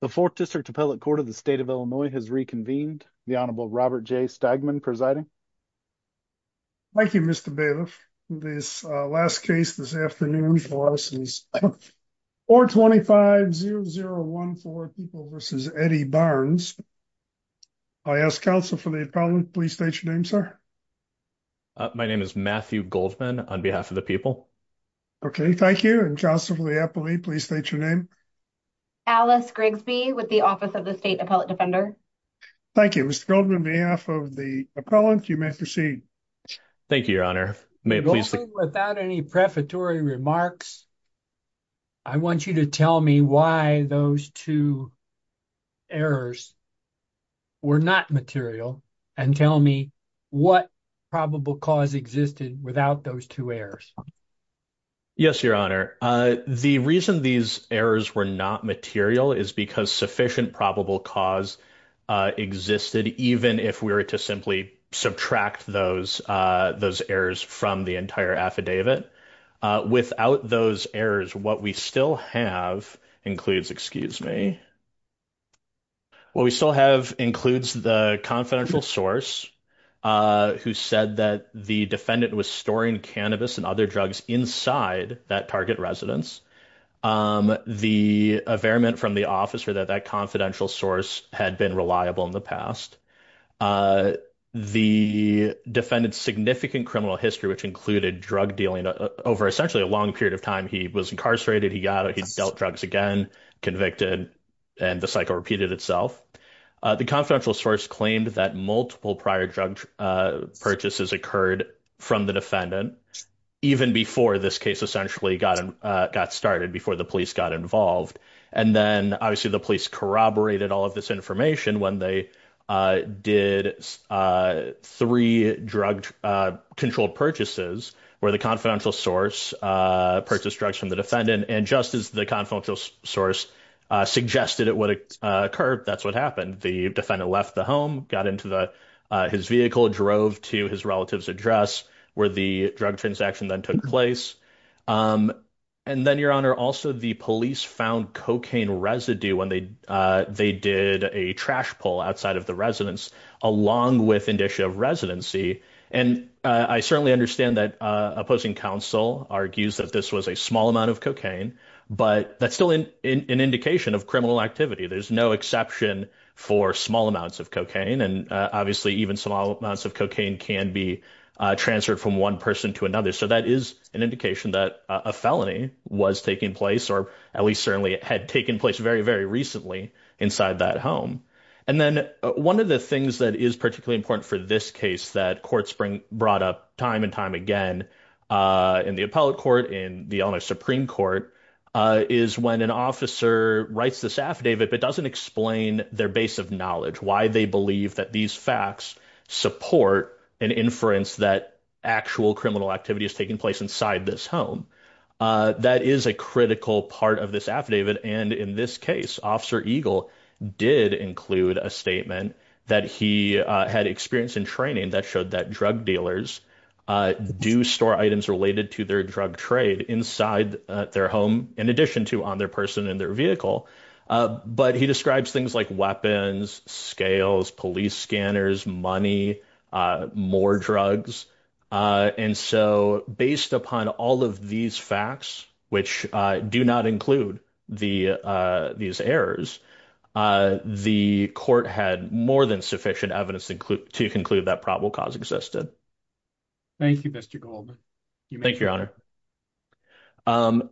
The 4th District Appellate Court of the State of Illinois has reconvened. The Honorable Robert J. Stagman presiding. Thank you, Mr. Bailiff. This last case this afternoon for us is 425-0014 People v. Eddie Barnes. I ask counsel for the appellant, please state your name, sir. My name is Matthew Goldman on behalf of the people. Okay, thank you. And counsel for the appellate, please state your name. Alice Grigsby with the Office of the State Appellate Defender. Thank you, Mr. Goldman. On behalf of the appellant, you may proceed. Thank you, Your Honor. Without any prefatory remarks, I want you to tell me why those two errors were not material and tell me what probable cause existed without those two errors. Yes, Your Honor. The reason these errors were not material is because sufficient probable cause existed, even if we were to simply subtract those errors from the entire affidavit. Without those errors, what we still have includes the confidential source who said that the defendant was storing cannabis and other drugs inside that target residence, the affidavit from the officer that that confidential source had been reliable in the past, the defendant's significant criminal history, which included drug dealing over essentially a long period of time. He was incarcerated, he dealt drugs again, convicted, and the cycle repeated itself. The confidential source claimed that multiple prior drug purchases occurred from the defendant, even before this case essentially got started, before the police got involved. And then, obviously, the police corroborated all of this information when they did three drug-controlled purchases where the confidential source purchased from the defendant. And just as the confidential source suggested it would occur, that's what happened. The defendant left the home, got into his vehicle, drove to his relative's address, where the drug transaction then took place. And then, Your Honor, also the police found cocaine residue when they did a trash pull outside of the residence, along with indicia of residency. And I certainly understand that opposing counsel argues that this was a small amount of cocaine, but that's still an indication of criminal activity. There's no exception for small amounts of cocaine, and obviously even small amounts of cocaine can be transferred from one person to another. So that is an indication that a felony was taking place, or at least certainly had taken place very, very recently inside that home. And then one of the things that is particularly important for this case that courts brought up time and time again in the appellate court, in the Eleanor Supreme Court, is when an officer writes this affidavit, but doesn't explain their base of knowledge, why they believe that these facts support an inference that actual criminal activity is taking place inside this home. That is a critical part of this affidavit. And in this case, Officer Eagle did include a statement that he had experienced in training that showed that drug dealers do store items related to their drug trade inside their home, in addition to on their person in their vehicle. But he describes things like weapons, scales, police scanners, money, more drugs. And so based upon all of these facts, which do not include these errors, the court had more than sufficient evidence to conclude that probable cause existed. Thank you, Mr. Goldman. Thank you, Your Honor.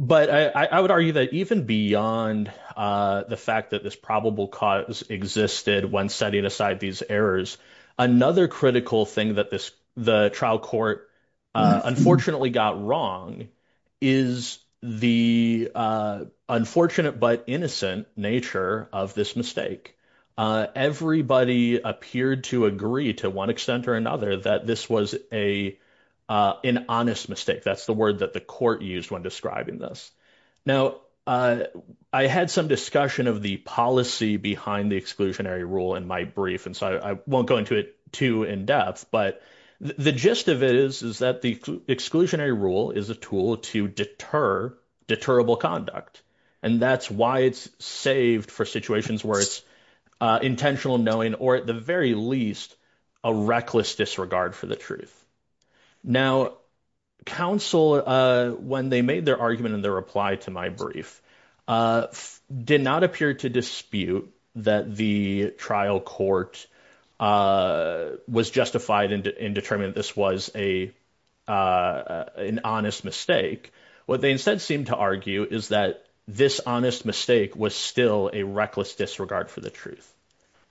But I would argue that even beyond the fact that this probable cause existed when setting aside these errors, another critical thing that the trial court unfortunately got wrong is the unfortunate but innocent nature of this mistake. Everybody appeared to agree to one extent or another that this was an honest mistake. That's the word that the court used when describing this. Now, I had some discussion of the policy behind the exclusionary rule in my brief, and so I won't go into it too in depth. But the gist of it is that the exclusionary rule is a tool to deter deterrable conduct. And that's why it's saved for situations where it's intentional knowing, or at the very least, a reckless disregard for the truth. Now, counsel, when they made their reply to my brief, did not appear to dispute that the trial court was justified in determining this was an honest mistake. What they instead seemed to argue is that this honest mistake was still a reckless disregard for the truth.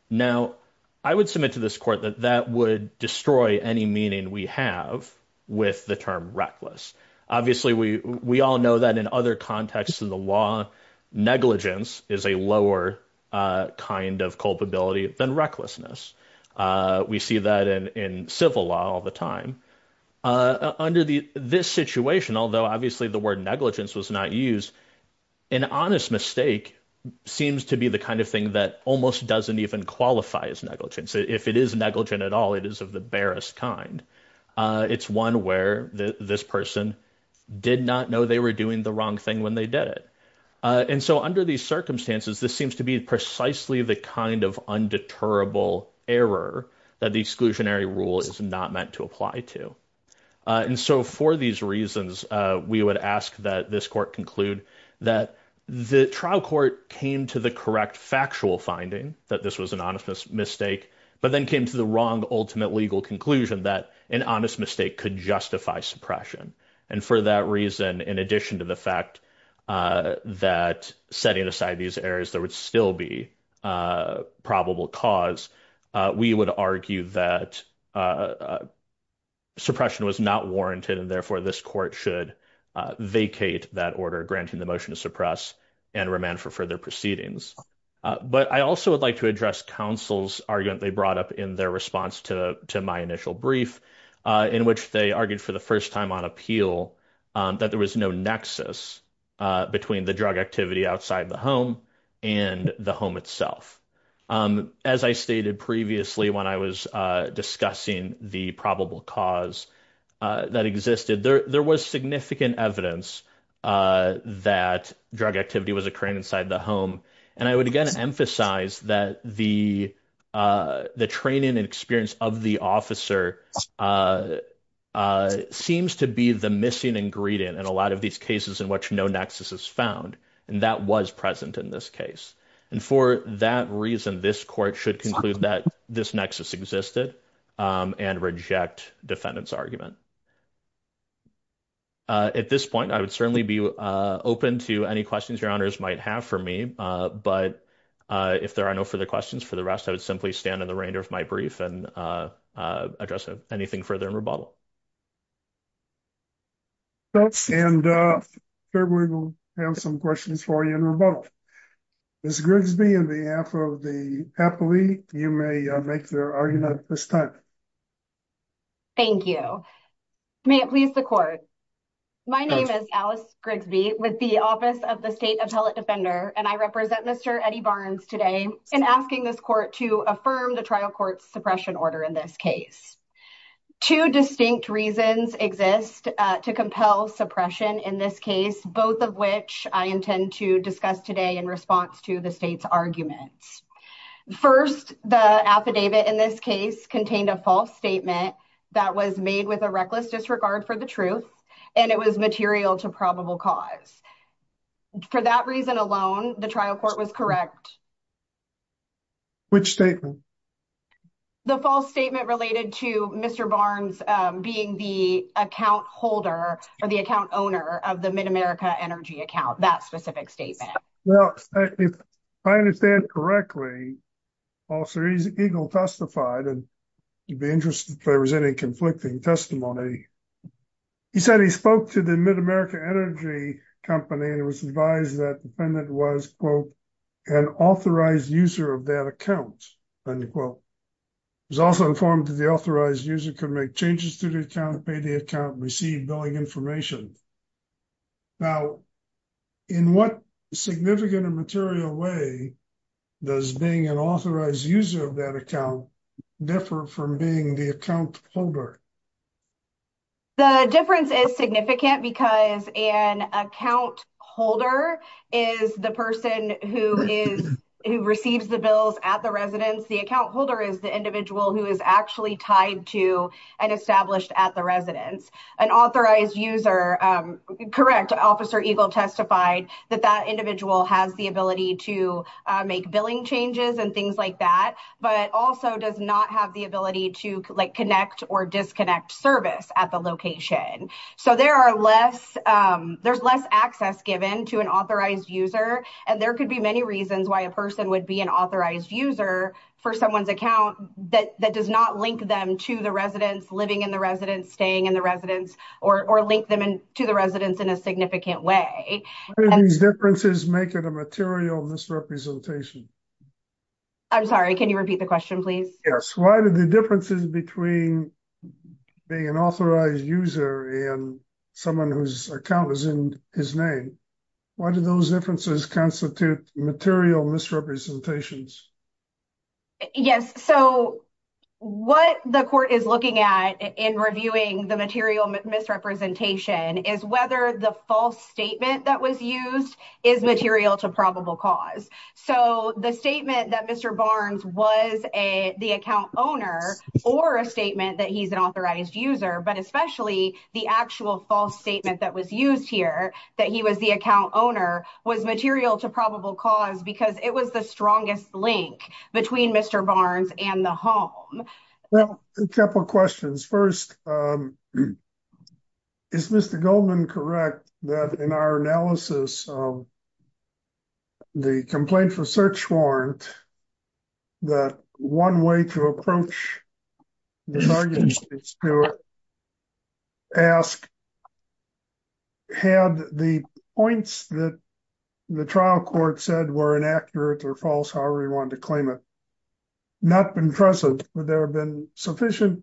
Now, I would submit to this court that that would destroy any meaning we have with the term reckless. Obviously, we all know that in other contexts in the law, negligence is a lower kind of culpability than recklessness. We see that in civil law all the time. Under this situation, although obviously the word negligence was not used, an honest mistake seems to be the kind of thing that almost doesn't even qualify as negligence. If it is negligent at all, it is of the barest kind. It's one where this person did not know they were doing the wrong thing when they did it. And so under these circumstances, this seems to be precisely the kind of undeterrable error that the exclusionary rule is not meant to apply to. And so for these reasons, we would ask that this court conclude that the trial court came to the correct factual finding that this was an honest mistake, but then came to the wrong ultimate legal conclusion that an honest mistake could justify suppression. And for that reason, in addition to the fact that setting aside these errors, there would still be a probable cause, we would argue that suppression was not warranted, and therefore this court should vacate that order granting the motion to suppress and remand for further proceedings. But I also would like to address counsel's argument they brought up in their response to my initial brief, in which they argued for the first time on appeal that there was no nexus between the drug activity outside the home and the home itself. As I stated previously when I was discussing the probable cause that existed, there was significant evidence that drug activity was occurring inside the home, and I would again emphasize that the training and experience of the officer seems to be the missing ingredient in a lot of these cases in which no nexus is found, and that was present in this case. And for that reason, this court should conclude that this nexus existed and reject defendant's argument. At this point, I would certainly be open to any questions your honors might have for me, but if there are no further questions for the rest, I would simply stand in the reign of my brief and address anything further in rebuttal. And certainly we'll have some questions for you in rebuttal. Ms. Grigsby, on behalf of the Appellate League, you may make your argument at this time. Thank you. May it please the court. My name is Alice Grigsby with the Office of the State Appellate Defender, and I represent Mr. Eddie Barnes today in asking this court to affirm the trial court's suppression order in this case. Two distinct reasons exist to compel suppression in this case, both of which I intend to discuss today in response to the state's arguments. First, the affidavit in this case contained a false statement that was made with a reckless disregard for the truth, and it was material to probable cause. For that reason alone, the trial court was correct. Which statement? The false statement related to Mr. Barnes being the account holder or the account owner of the MidAmerica Energy that specific statement. If I understand correctly, Officer Eagle testified, and you'd be interested if there was any conflicting testimony. He said he spoke to the MidAmerica Energy company and it was advised that the defendant was, quote, an authorized user of that account, end quote. He was also informed that the authorized user could make changes to the account, pay the account, receive billing information. Now, in what significant and material way does being an authorized user of that account differ from being the account holder? The difference is significant because an account holder is the person who is, who receives the bills at the residence. The account holder is the individual who is actually tied to and established at the residence. An authorized user, correct, Officer Eagle testified that that individual has the ability to make billing changes and things like that, but also does not have the ability to, like, connect or disconnect service at the location. So there are less, there's less access given to an authorized user, and there could be many reasons why a person would be an authorized user for someone's account that does not link them to the residence, living in the residence, staying in the residence, or link them to the residence in a significant way. Why do these differences make it a material misrepresentation? I'm sorry, can you repeat the question, please? Yes, why do the differences between being an authorized user and someone whose account is in his name, why do those differences constitute material misrepresentations? Yes, so what the court is looking at in reviewing the material misrepresentation is whether the false statement that was used is material to probable cause. So the statement that Mr. Barnes was a, the account owner, or a statement that he's an authorized user, but especially the actual false statement that was used here, that he was the account owner, was material to probable cause because it was the strongest link between Mr. Barnes and the home. Well, a couple questions. First, is Mr. Goldman correct that in our analysis of the complaint for search warrant, that one way to approach this argument is to ask, had the points that the trial court said were inaccurate or false, however you want to claim it, not been trusted, but there have been sufficient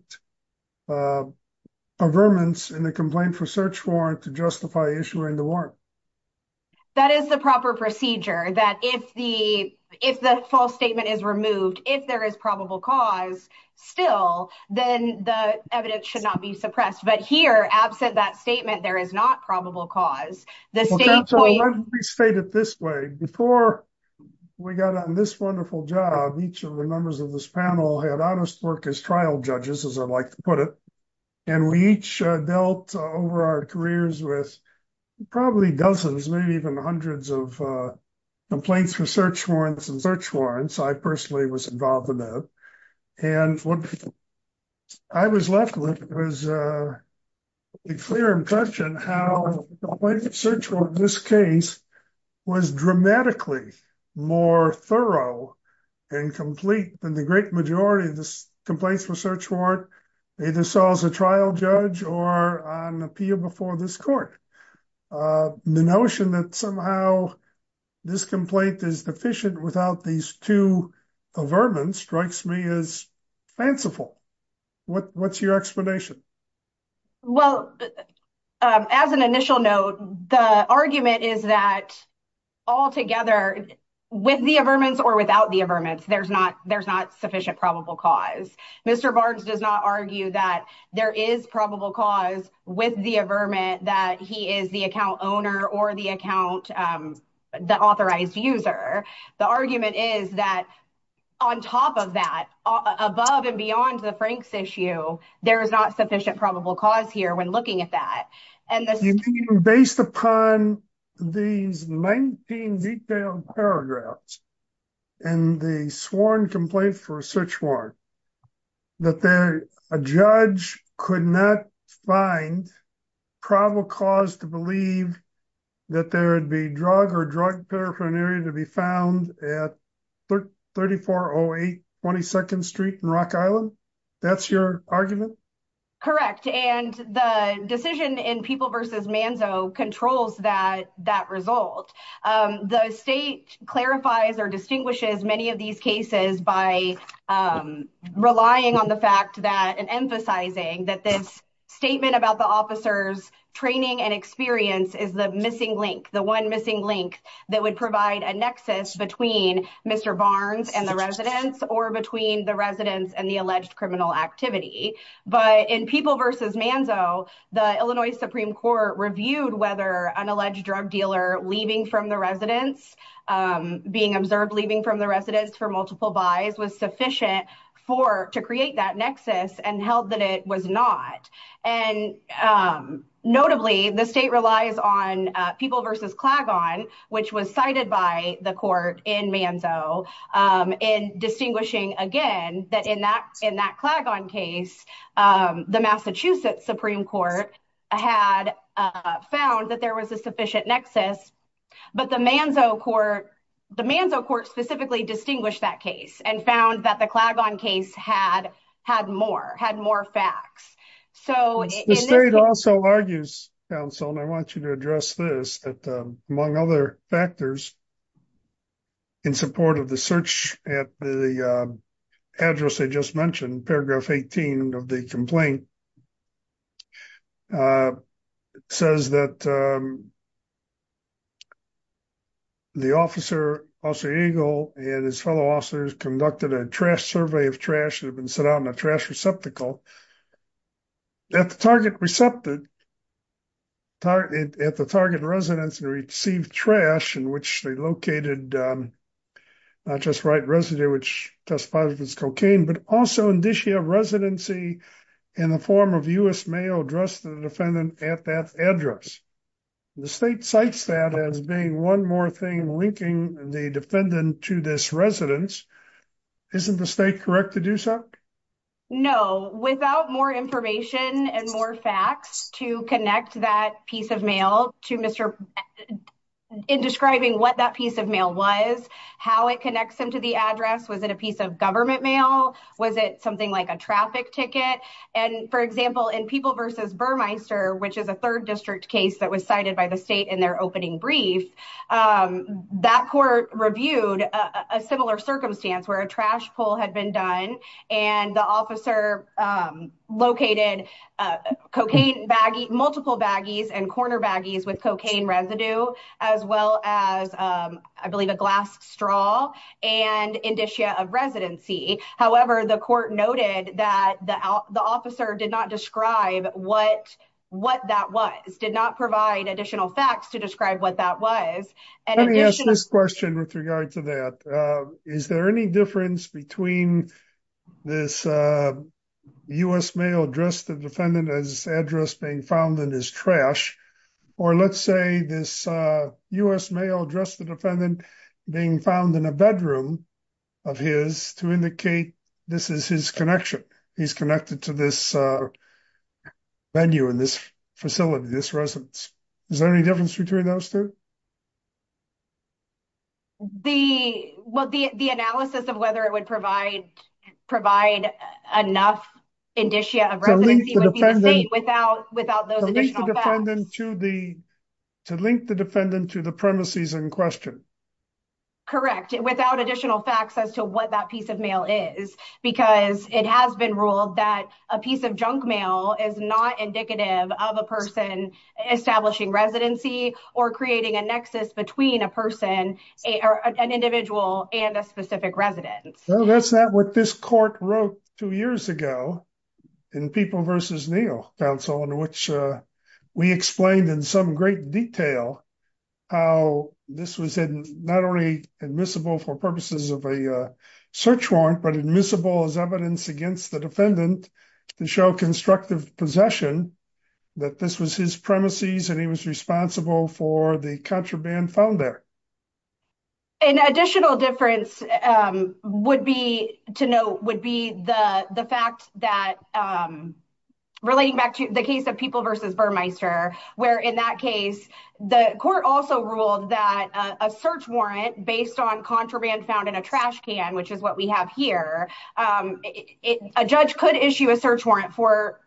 averments in the complaint for search warrant to justify issuing the warrant? That is the proper procedure, that if the false statement is removed, if there is probable cause still, then the evidence should not be suppressed. But here, absent that statement, there is not probable cause. Let me state it this way. Before we got on this wonderful job, each of the members of this panel had honest work as trial judges, as I like to put it, and we each dealt over our careers with probably dozens, maybe even hundreds of complaints for search warrants and search warrants, I personally was involved in that. And what I was left with was a clear impression how the complaint for search warrant in this case was dramatically more thorough and complete than the great majority of the complaints for search warrant either saw as a trial judge or on appeal before this court. The notion that somehow this complaint is deficient without these two averments strikes me as fanciful. What's your explanation? Well, as an initial note, the argument is that altogether with the averments or without the averments, there's not sufficient probable cause. Mr. Barnes does not argue that there is probable cause with the averment that he is the account owner or the authorized user. The argument is that on top of that, above and beyond the Frank's issue, there is not sufficient probable cause here when looking at that. Based upon these 19 detailed paragraphs and the sworn complaint for search warrant, that a judge could not find probable cause to believe that there would be drug or drug paraphernalia to be found at 3408 22nd Street in Rock Island. That's your argument? Correct. And the decision in People v. Manzo controls that result. The state clarifies or distinguishes many of these cases by relying on the fact that and emphasizing that this statement about the officer's training and experience is the missing link, the one missing link that would provide a nexus between Mr. Barnes and the residents or between the residents and the alleged criminal activity. But in People v. Manzo, the Illinois Supreme Court reviewed whether an alleged drug leaving from the residence, being observed leaving from the residence for multiple buys was sufficient to create that nexus and held that it was not. And notably, the state relies on People v. Clagon, which was cited by the court in Manzo, in distinguishing, again, that in that case, the Massachusetts Supreme Court had found that there was a sufficient nexus. But the Manzo court, the Manzo court specifically distinguished that case and found that the Clagon case had more, had more facts. The state also argues, counsel, and I want you to address this, among other factors, in support of the search at the address I just mentioned, paragraph 18 of the complaint, says that the officer, Officer Eagle, and his fellow officers conducted a trash survey of trash that had been sent out in a trash receptacle. At the target receptacle, at the target residence, they received trash in which they located, not just resident, which testified it was cocaine, but also in this year residency in the form of U.S. mail addressed the defendant at that address. The state cites that as being one more thing linking the defendant to this residence. Isn't the state correct to do so? No. Without more information and more facts to connect that piece of mail to Mr. in describing what that piece of mail was, how it connects him to the address, was it a piece of government mail? Was it something like a traffic ticket? And for example, in People versus Burmeister, which is a third district case that was cited by the state in their opening brief, that court reviewed a similar circumstance where a trash pull had been done and the officer located cocaine baggie, multiple baggies, and corner baggies with cocaine residue, as well as, I believe, a glass straw and indicia of residency. However, the court noted that the officer did not what that was, did not provide additional facts to describe what that was. Let me ask this question with regard to that. Is there any difference between this U.S. mail addressed the defendant as address being found in his trash? Or let's say this U.S. mail addressed the defendant being found in a bedroom of his to indicate this is his connection. He's venue in this facility, this residence. Is there any difference between those two? The, well, the analysis of whether it would provide enough indicia of residency without those additional facts. To link the defendant to the premises in question. Correct. Without additional facts as to what that piece of mail is, because it has been ruled that a piece of junk mail is not indicative of a person establishing residency or creating a nexus between a person or an individual and a specific residence. That's not what this court wrote two years ago in People v. Neal counsel, in which we explained in some great detail how this was not only admissible for purposes of a search warrant, but admissible as evidence against the defendant to show constructive possession that this was his premises and he was responsible for the contraband found there. An additional difference would be to note would be the fact that relating back to the case of People v. Burmeister, where in that case, the court also ruled that a search warrant based on contraband found in a trash can, which is what we have here, a judge could issue a search warrant for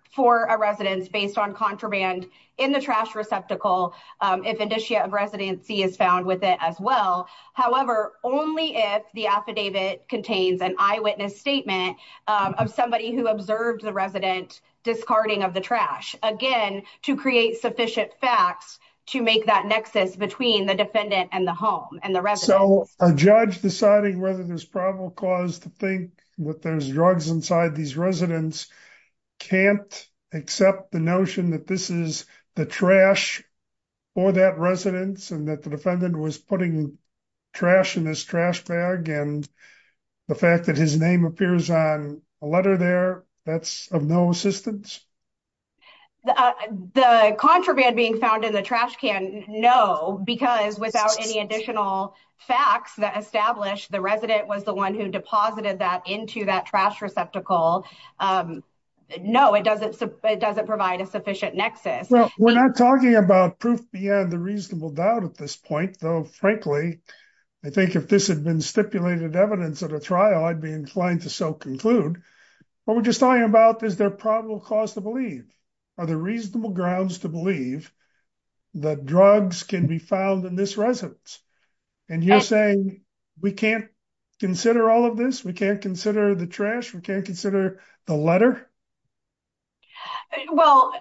a residence based on contraband in the trash receptacle if indicia of residency is found with it as well. However, only if the affidavit contains an eyewitness statement of somebody who observed the resident discarding of the trash. Again, to create sufficient facts to make that nexus between the defendant and the home and the rest. So a judge deciding whether there's probable cause to think that there's drugs inside these residents can't accept the notion that this is the trash for that residence and that the defendant was putting trash in this trash bag and the fact that his name appears on a letter there that's of no assistance. The contraband being found in the trash can. No, because without any additional facts that established the resident was the one who deposited that into that trash receptacle. No, it doesn't. It doesn't provide a sufficient nexus. Well, we're not talking about proof beyond the reasonable doubt at this point, though, frankly, I think if this had been stipulated evidence at a trial, I'd be inclined to so conclude. What we're just talking about is their probable cause to believe are the reasonable grounds to believe that drugs can be found in this residence. And you're saying we can't consider all of this. We can't consider the trash. We can't consider the letter. Well,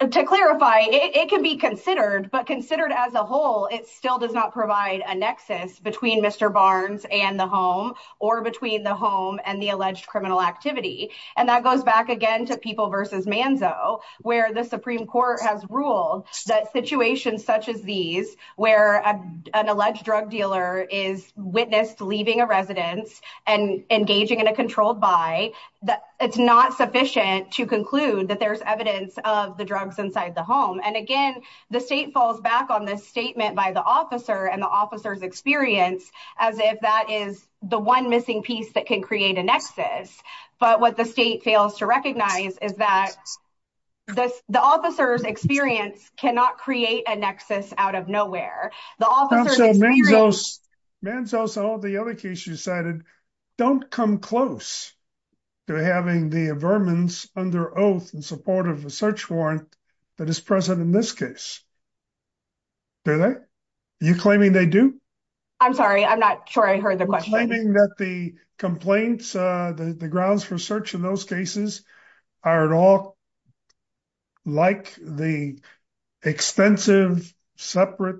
to clarify, it can be considered, but considered as a whole, it still does not provide a nexus between Mr. Barnes and the home or between the home and the alleged criminal activity. And that goes back again to people versus Manzo, where the Supreme Court has ruled that situations such as these, where an alleged drug dealer is witnessed leaving a residence and engaging in a controlled by that, it's not sufficient to conclude that there's evidence of the drugs inside the home. And again, the state falls back on this statement by the officer and the officer's experience as if that is the one missing piece that can create a nexus. But what the state fails to recognize is that the officer's experience cannot create a nexus out of nowhere. The officer's experience... Manzo, so the other case you cited, don't come close to having the vermin under oath in support of a search warrant that is present in this case. Do they? Are you claiming they do? I'm sorry, I'm not sure I heard the question. Are you claiming that the complaints, the grounds for search in those cases are at all like the extensive, separate,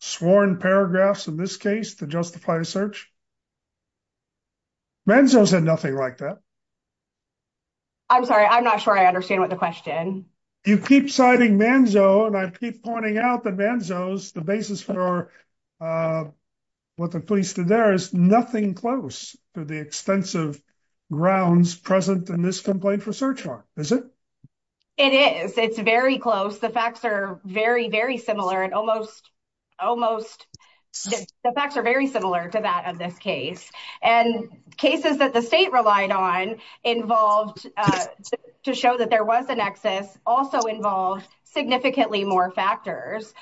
sworn paragraphs in this case that justify the search? Manzo said nothing like that. I'm sorry, I'm not sure I understand what the question... You keep citing Manzo, and I keep pointing out that Manzo's, the basis for what the police did there is nothing close to the extensive grounds present in this complaint for search warrant, is it? It is. It's very close. The facts are very, very similar and almost... Almost... The facts are very similar to that of this case. And cases that the state relied on involved, to show that there was a nexus, also involved significantly more factors.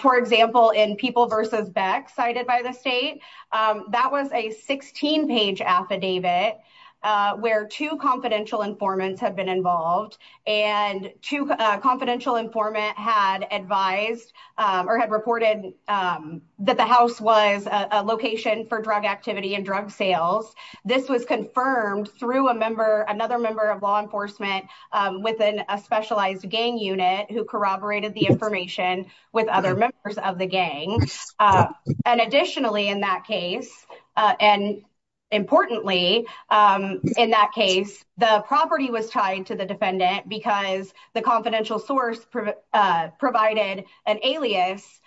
For example, in People v. Beck, cited by the state, that was a 16-page affidavit where two confidential informants had been involved, and two confidential informant had advised or had reported that the house was a location for drug activity and drug sales. This was confirmed through a member, another member of law enforcement within a specialized gang unit who corroborated the information with other members of the gang. And additionally, in that case, and importantly, in that case, the property was tied to the alias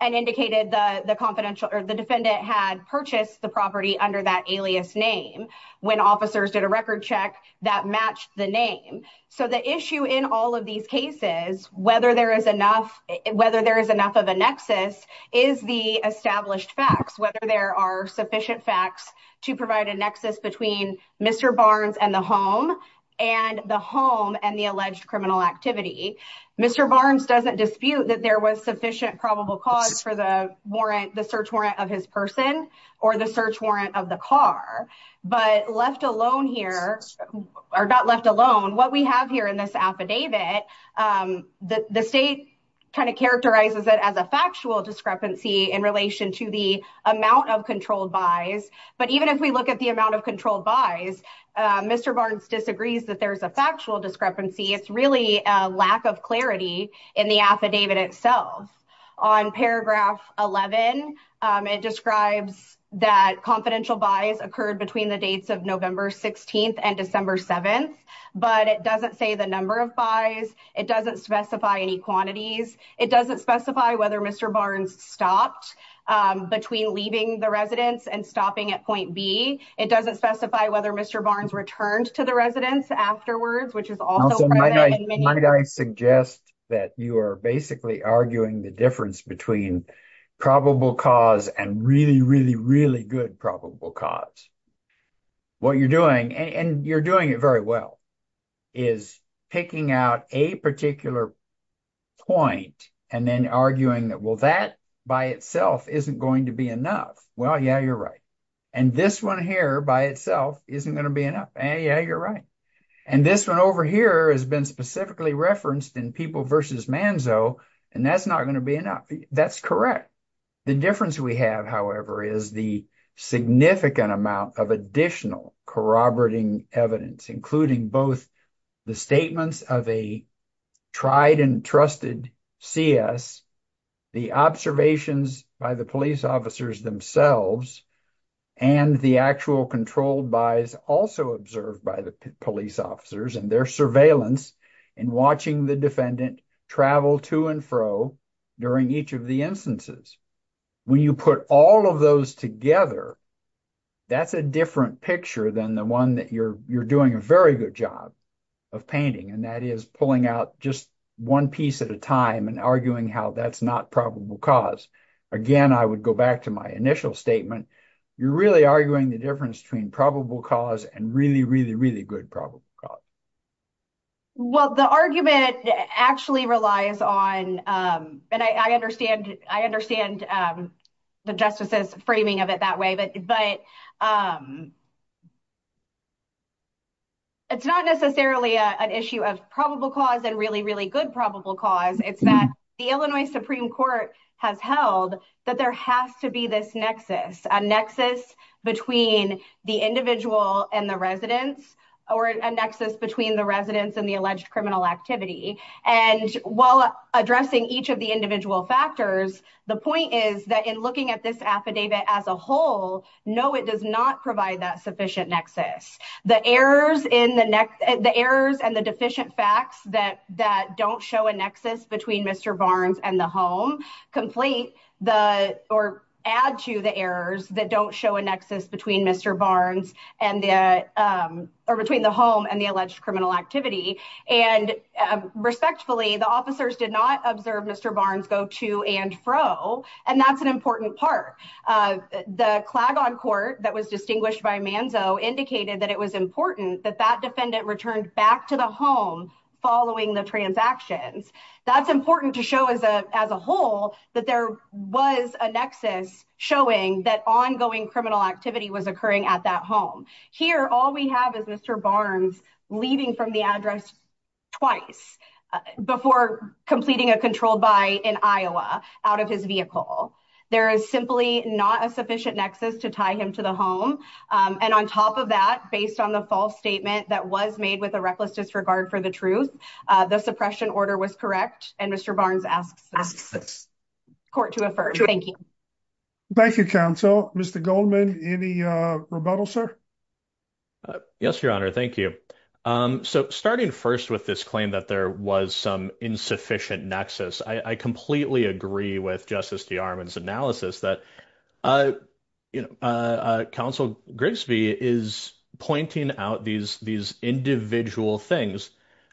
and indicated the defendant had purchased the property under that alias name when officers did a record check that matched the name. So the issue in all of these cases, whether there is enough of a nexus, is the established facts, whether there are sufficient facts to provide a nexus between Mr. Barnes and the home, and the home and the alleged criminal activity. Mr. Barnes doesn't dispute that there was sufficient probable cause for the warrant, the search warrant of his person, or the search warrant of the car. But left alone here, or not left alone, what we have here in this affidavit, the state kind of characterizes it as a factual discrepancy in relation to the amount of controlled buys. But even if we look at the amount of controlled buys, Mr. Barnes disagrees that there's a factual discrepancy. It's really a lack of clarity in the affidavit itself. On paragraph 11, it describes that confidential buys occurred between the dates of November 16th and December 7th. But it doesn't say the number of buys. It doesn't specify any quantities. It doesn't specify whether Mr. Barnes stopped between leaving the residence and stopping at point B. It doesn't specify whether Mr. Barnes returned to the residence afterwards, which is also... Also, might I suggest that you are basically arguing the difference between probable cause and really, really, really good probable cause. What you're doing, and you're doing it very well, is picking out a particular point and then arguing that, well, that by itself isn't going to be enough. Yeah, you're right. And this one over here has been specifically referenced in People versus Manzo, and that's not going to be enough. That's correct. The difference we have, however, is the significant amount of additional corroborating evidence, including both the statements of a tried and trusted CS, the observations by the police officers themselves, and the actual controlled buys also observed by the police officers and their surveillance in watching the defendant travel to and fro during each of the instances. When you put all of those together, that's a different picture than the one that you're doing a very good job of painting, and that is pulling out just one piece at a time and arguing how that's not probable cause. Again, I would go back to my initial statement. You're really arguing the difference between probable cause and really, really, really good probable cause. Well, the argument actually relies on, and I understand the justices' framing of it that way, but it's not necessarily an issue of probable cause and really, really good probable cause. It's that the Illinois Supreme Court has held that there has to be this nexus, a nexus between the individual and the residents or a nexus between the residents and the alleged criminal activity. While addressing each of the individual factors, the point is that in looking at this affidavit as a whole, no, it does not provide that sufficient nexus. The errors and the deficient facts that don't show a nexus between Mr. Barnes and the home add to the errors that don't show a nexus between the home and the alleged criminal activity. Respectfully, the officers did not observe Mr. Barnes go to and fro, and that's an important part. The clag on court that was distinguished by Manzo indicated that it was important that that defendant returned back to the home following the transactions. That's important to show as a whole that there was a nexus showing that ongoing criminal activity was occurring at that home. Here, all we have is Mr. Barnes leaving from the address twice before completing a controlled by in Iowa out of his vehicle. There is simply not a sufficient nexus to tie him to the home. And on top of that, based on the false statement that was made with a reckless disregard for the truth, the suppression order was correct. And Mr. Barnes asks this court to affirm. Thank you. Thank you, counsel. Mr. Goldman, any rebuttal, sir? Yes, Your Honor. Thank you. So starting first with this claim that there was some insufficient nexus, I completely agree with Justice DeArmond's analysis that, you know, counsel Grigsby is pointing out these individual things,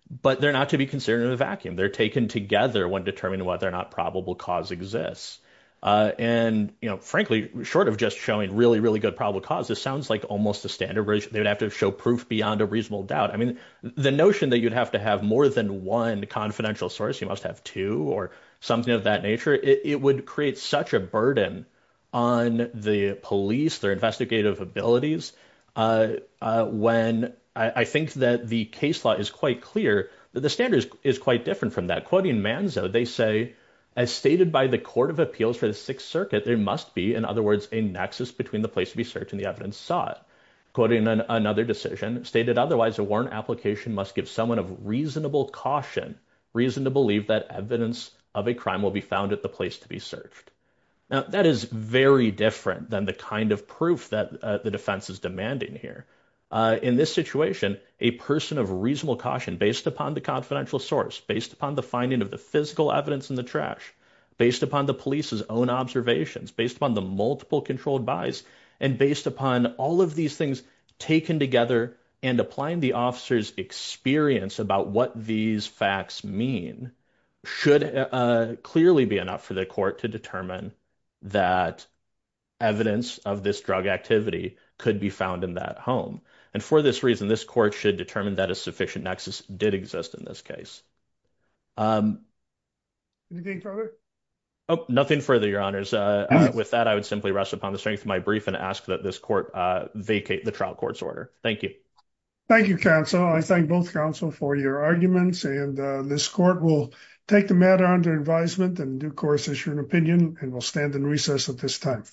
but they're not to be considered in a vacuum. They're taken together when determining whether or not probable cause exists. And, you know, frankly, short of just showing really, really good probable cause, this sounds like almost a standard. They would have to show proof beyond a reasonable doubt. I mean, the notion that you'd have to have more than one confidential source, you must have two or something of that nature. It would create such a burden on the police, their investigative abilities. When I think that the case law is quite clear, the standards is quite different from that. Quoting Manzo, they say, as stated by the Court of Appeals for the Sixth Circuit, there must be, in other words, a nexus between the place to be searched and the evidence sought. Quoting another decision, stated otherwise, a warrant application must give someone of reasonable caution, reason to believe that evidence of a crime will be found at the place to be searched. Now, that is very different than the kind of proof that the defense is demanding here. In this situation, a person of reasonable caution based upon the confidential source, based upon the finding of the physical evidence in the trash, based upon the police's own observations, based upon the multiple controlled buys, and based upon all of these things taken together and applying the officer's experience about what these facts mean, should clearly be enough for the court to determine that evidence of this drug activity could be found in that home. And for this reason, this court should determine that a sufficient nexus did exist in this case. Anything further? Oh, nothing further, Your Honors. With that, I would simply rest upon the strength of my brief and ask that this court vacate the trial court's order. Thank you. Thank you, counsel. I thank both counsel for your arguments, and this court will take the matter under advisement and due course issue an opinion, and we'll stand in recess at this time.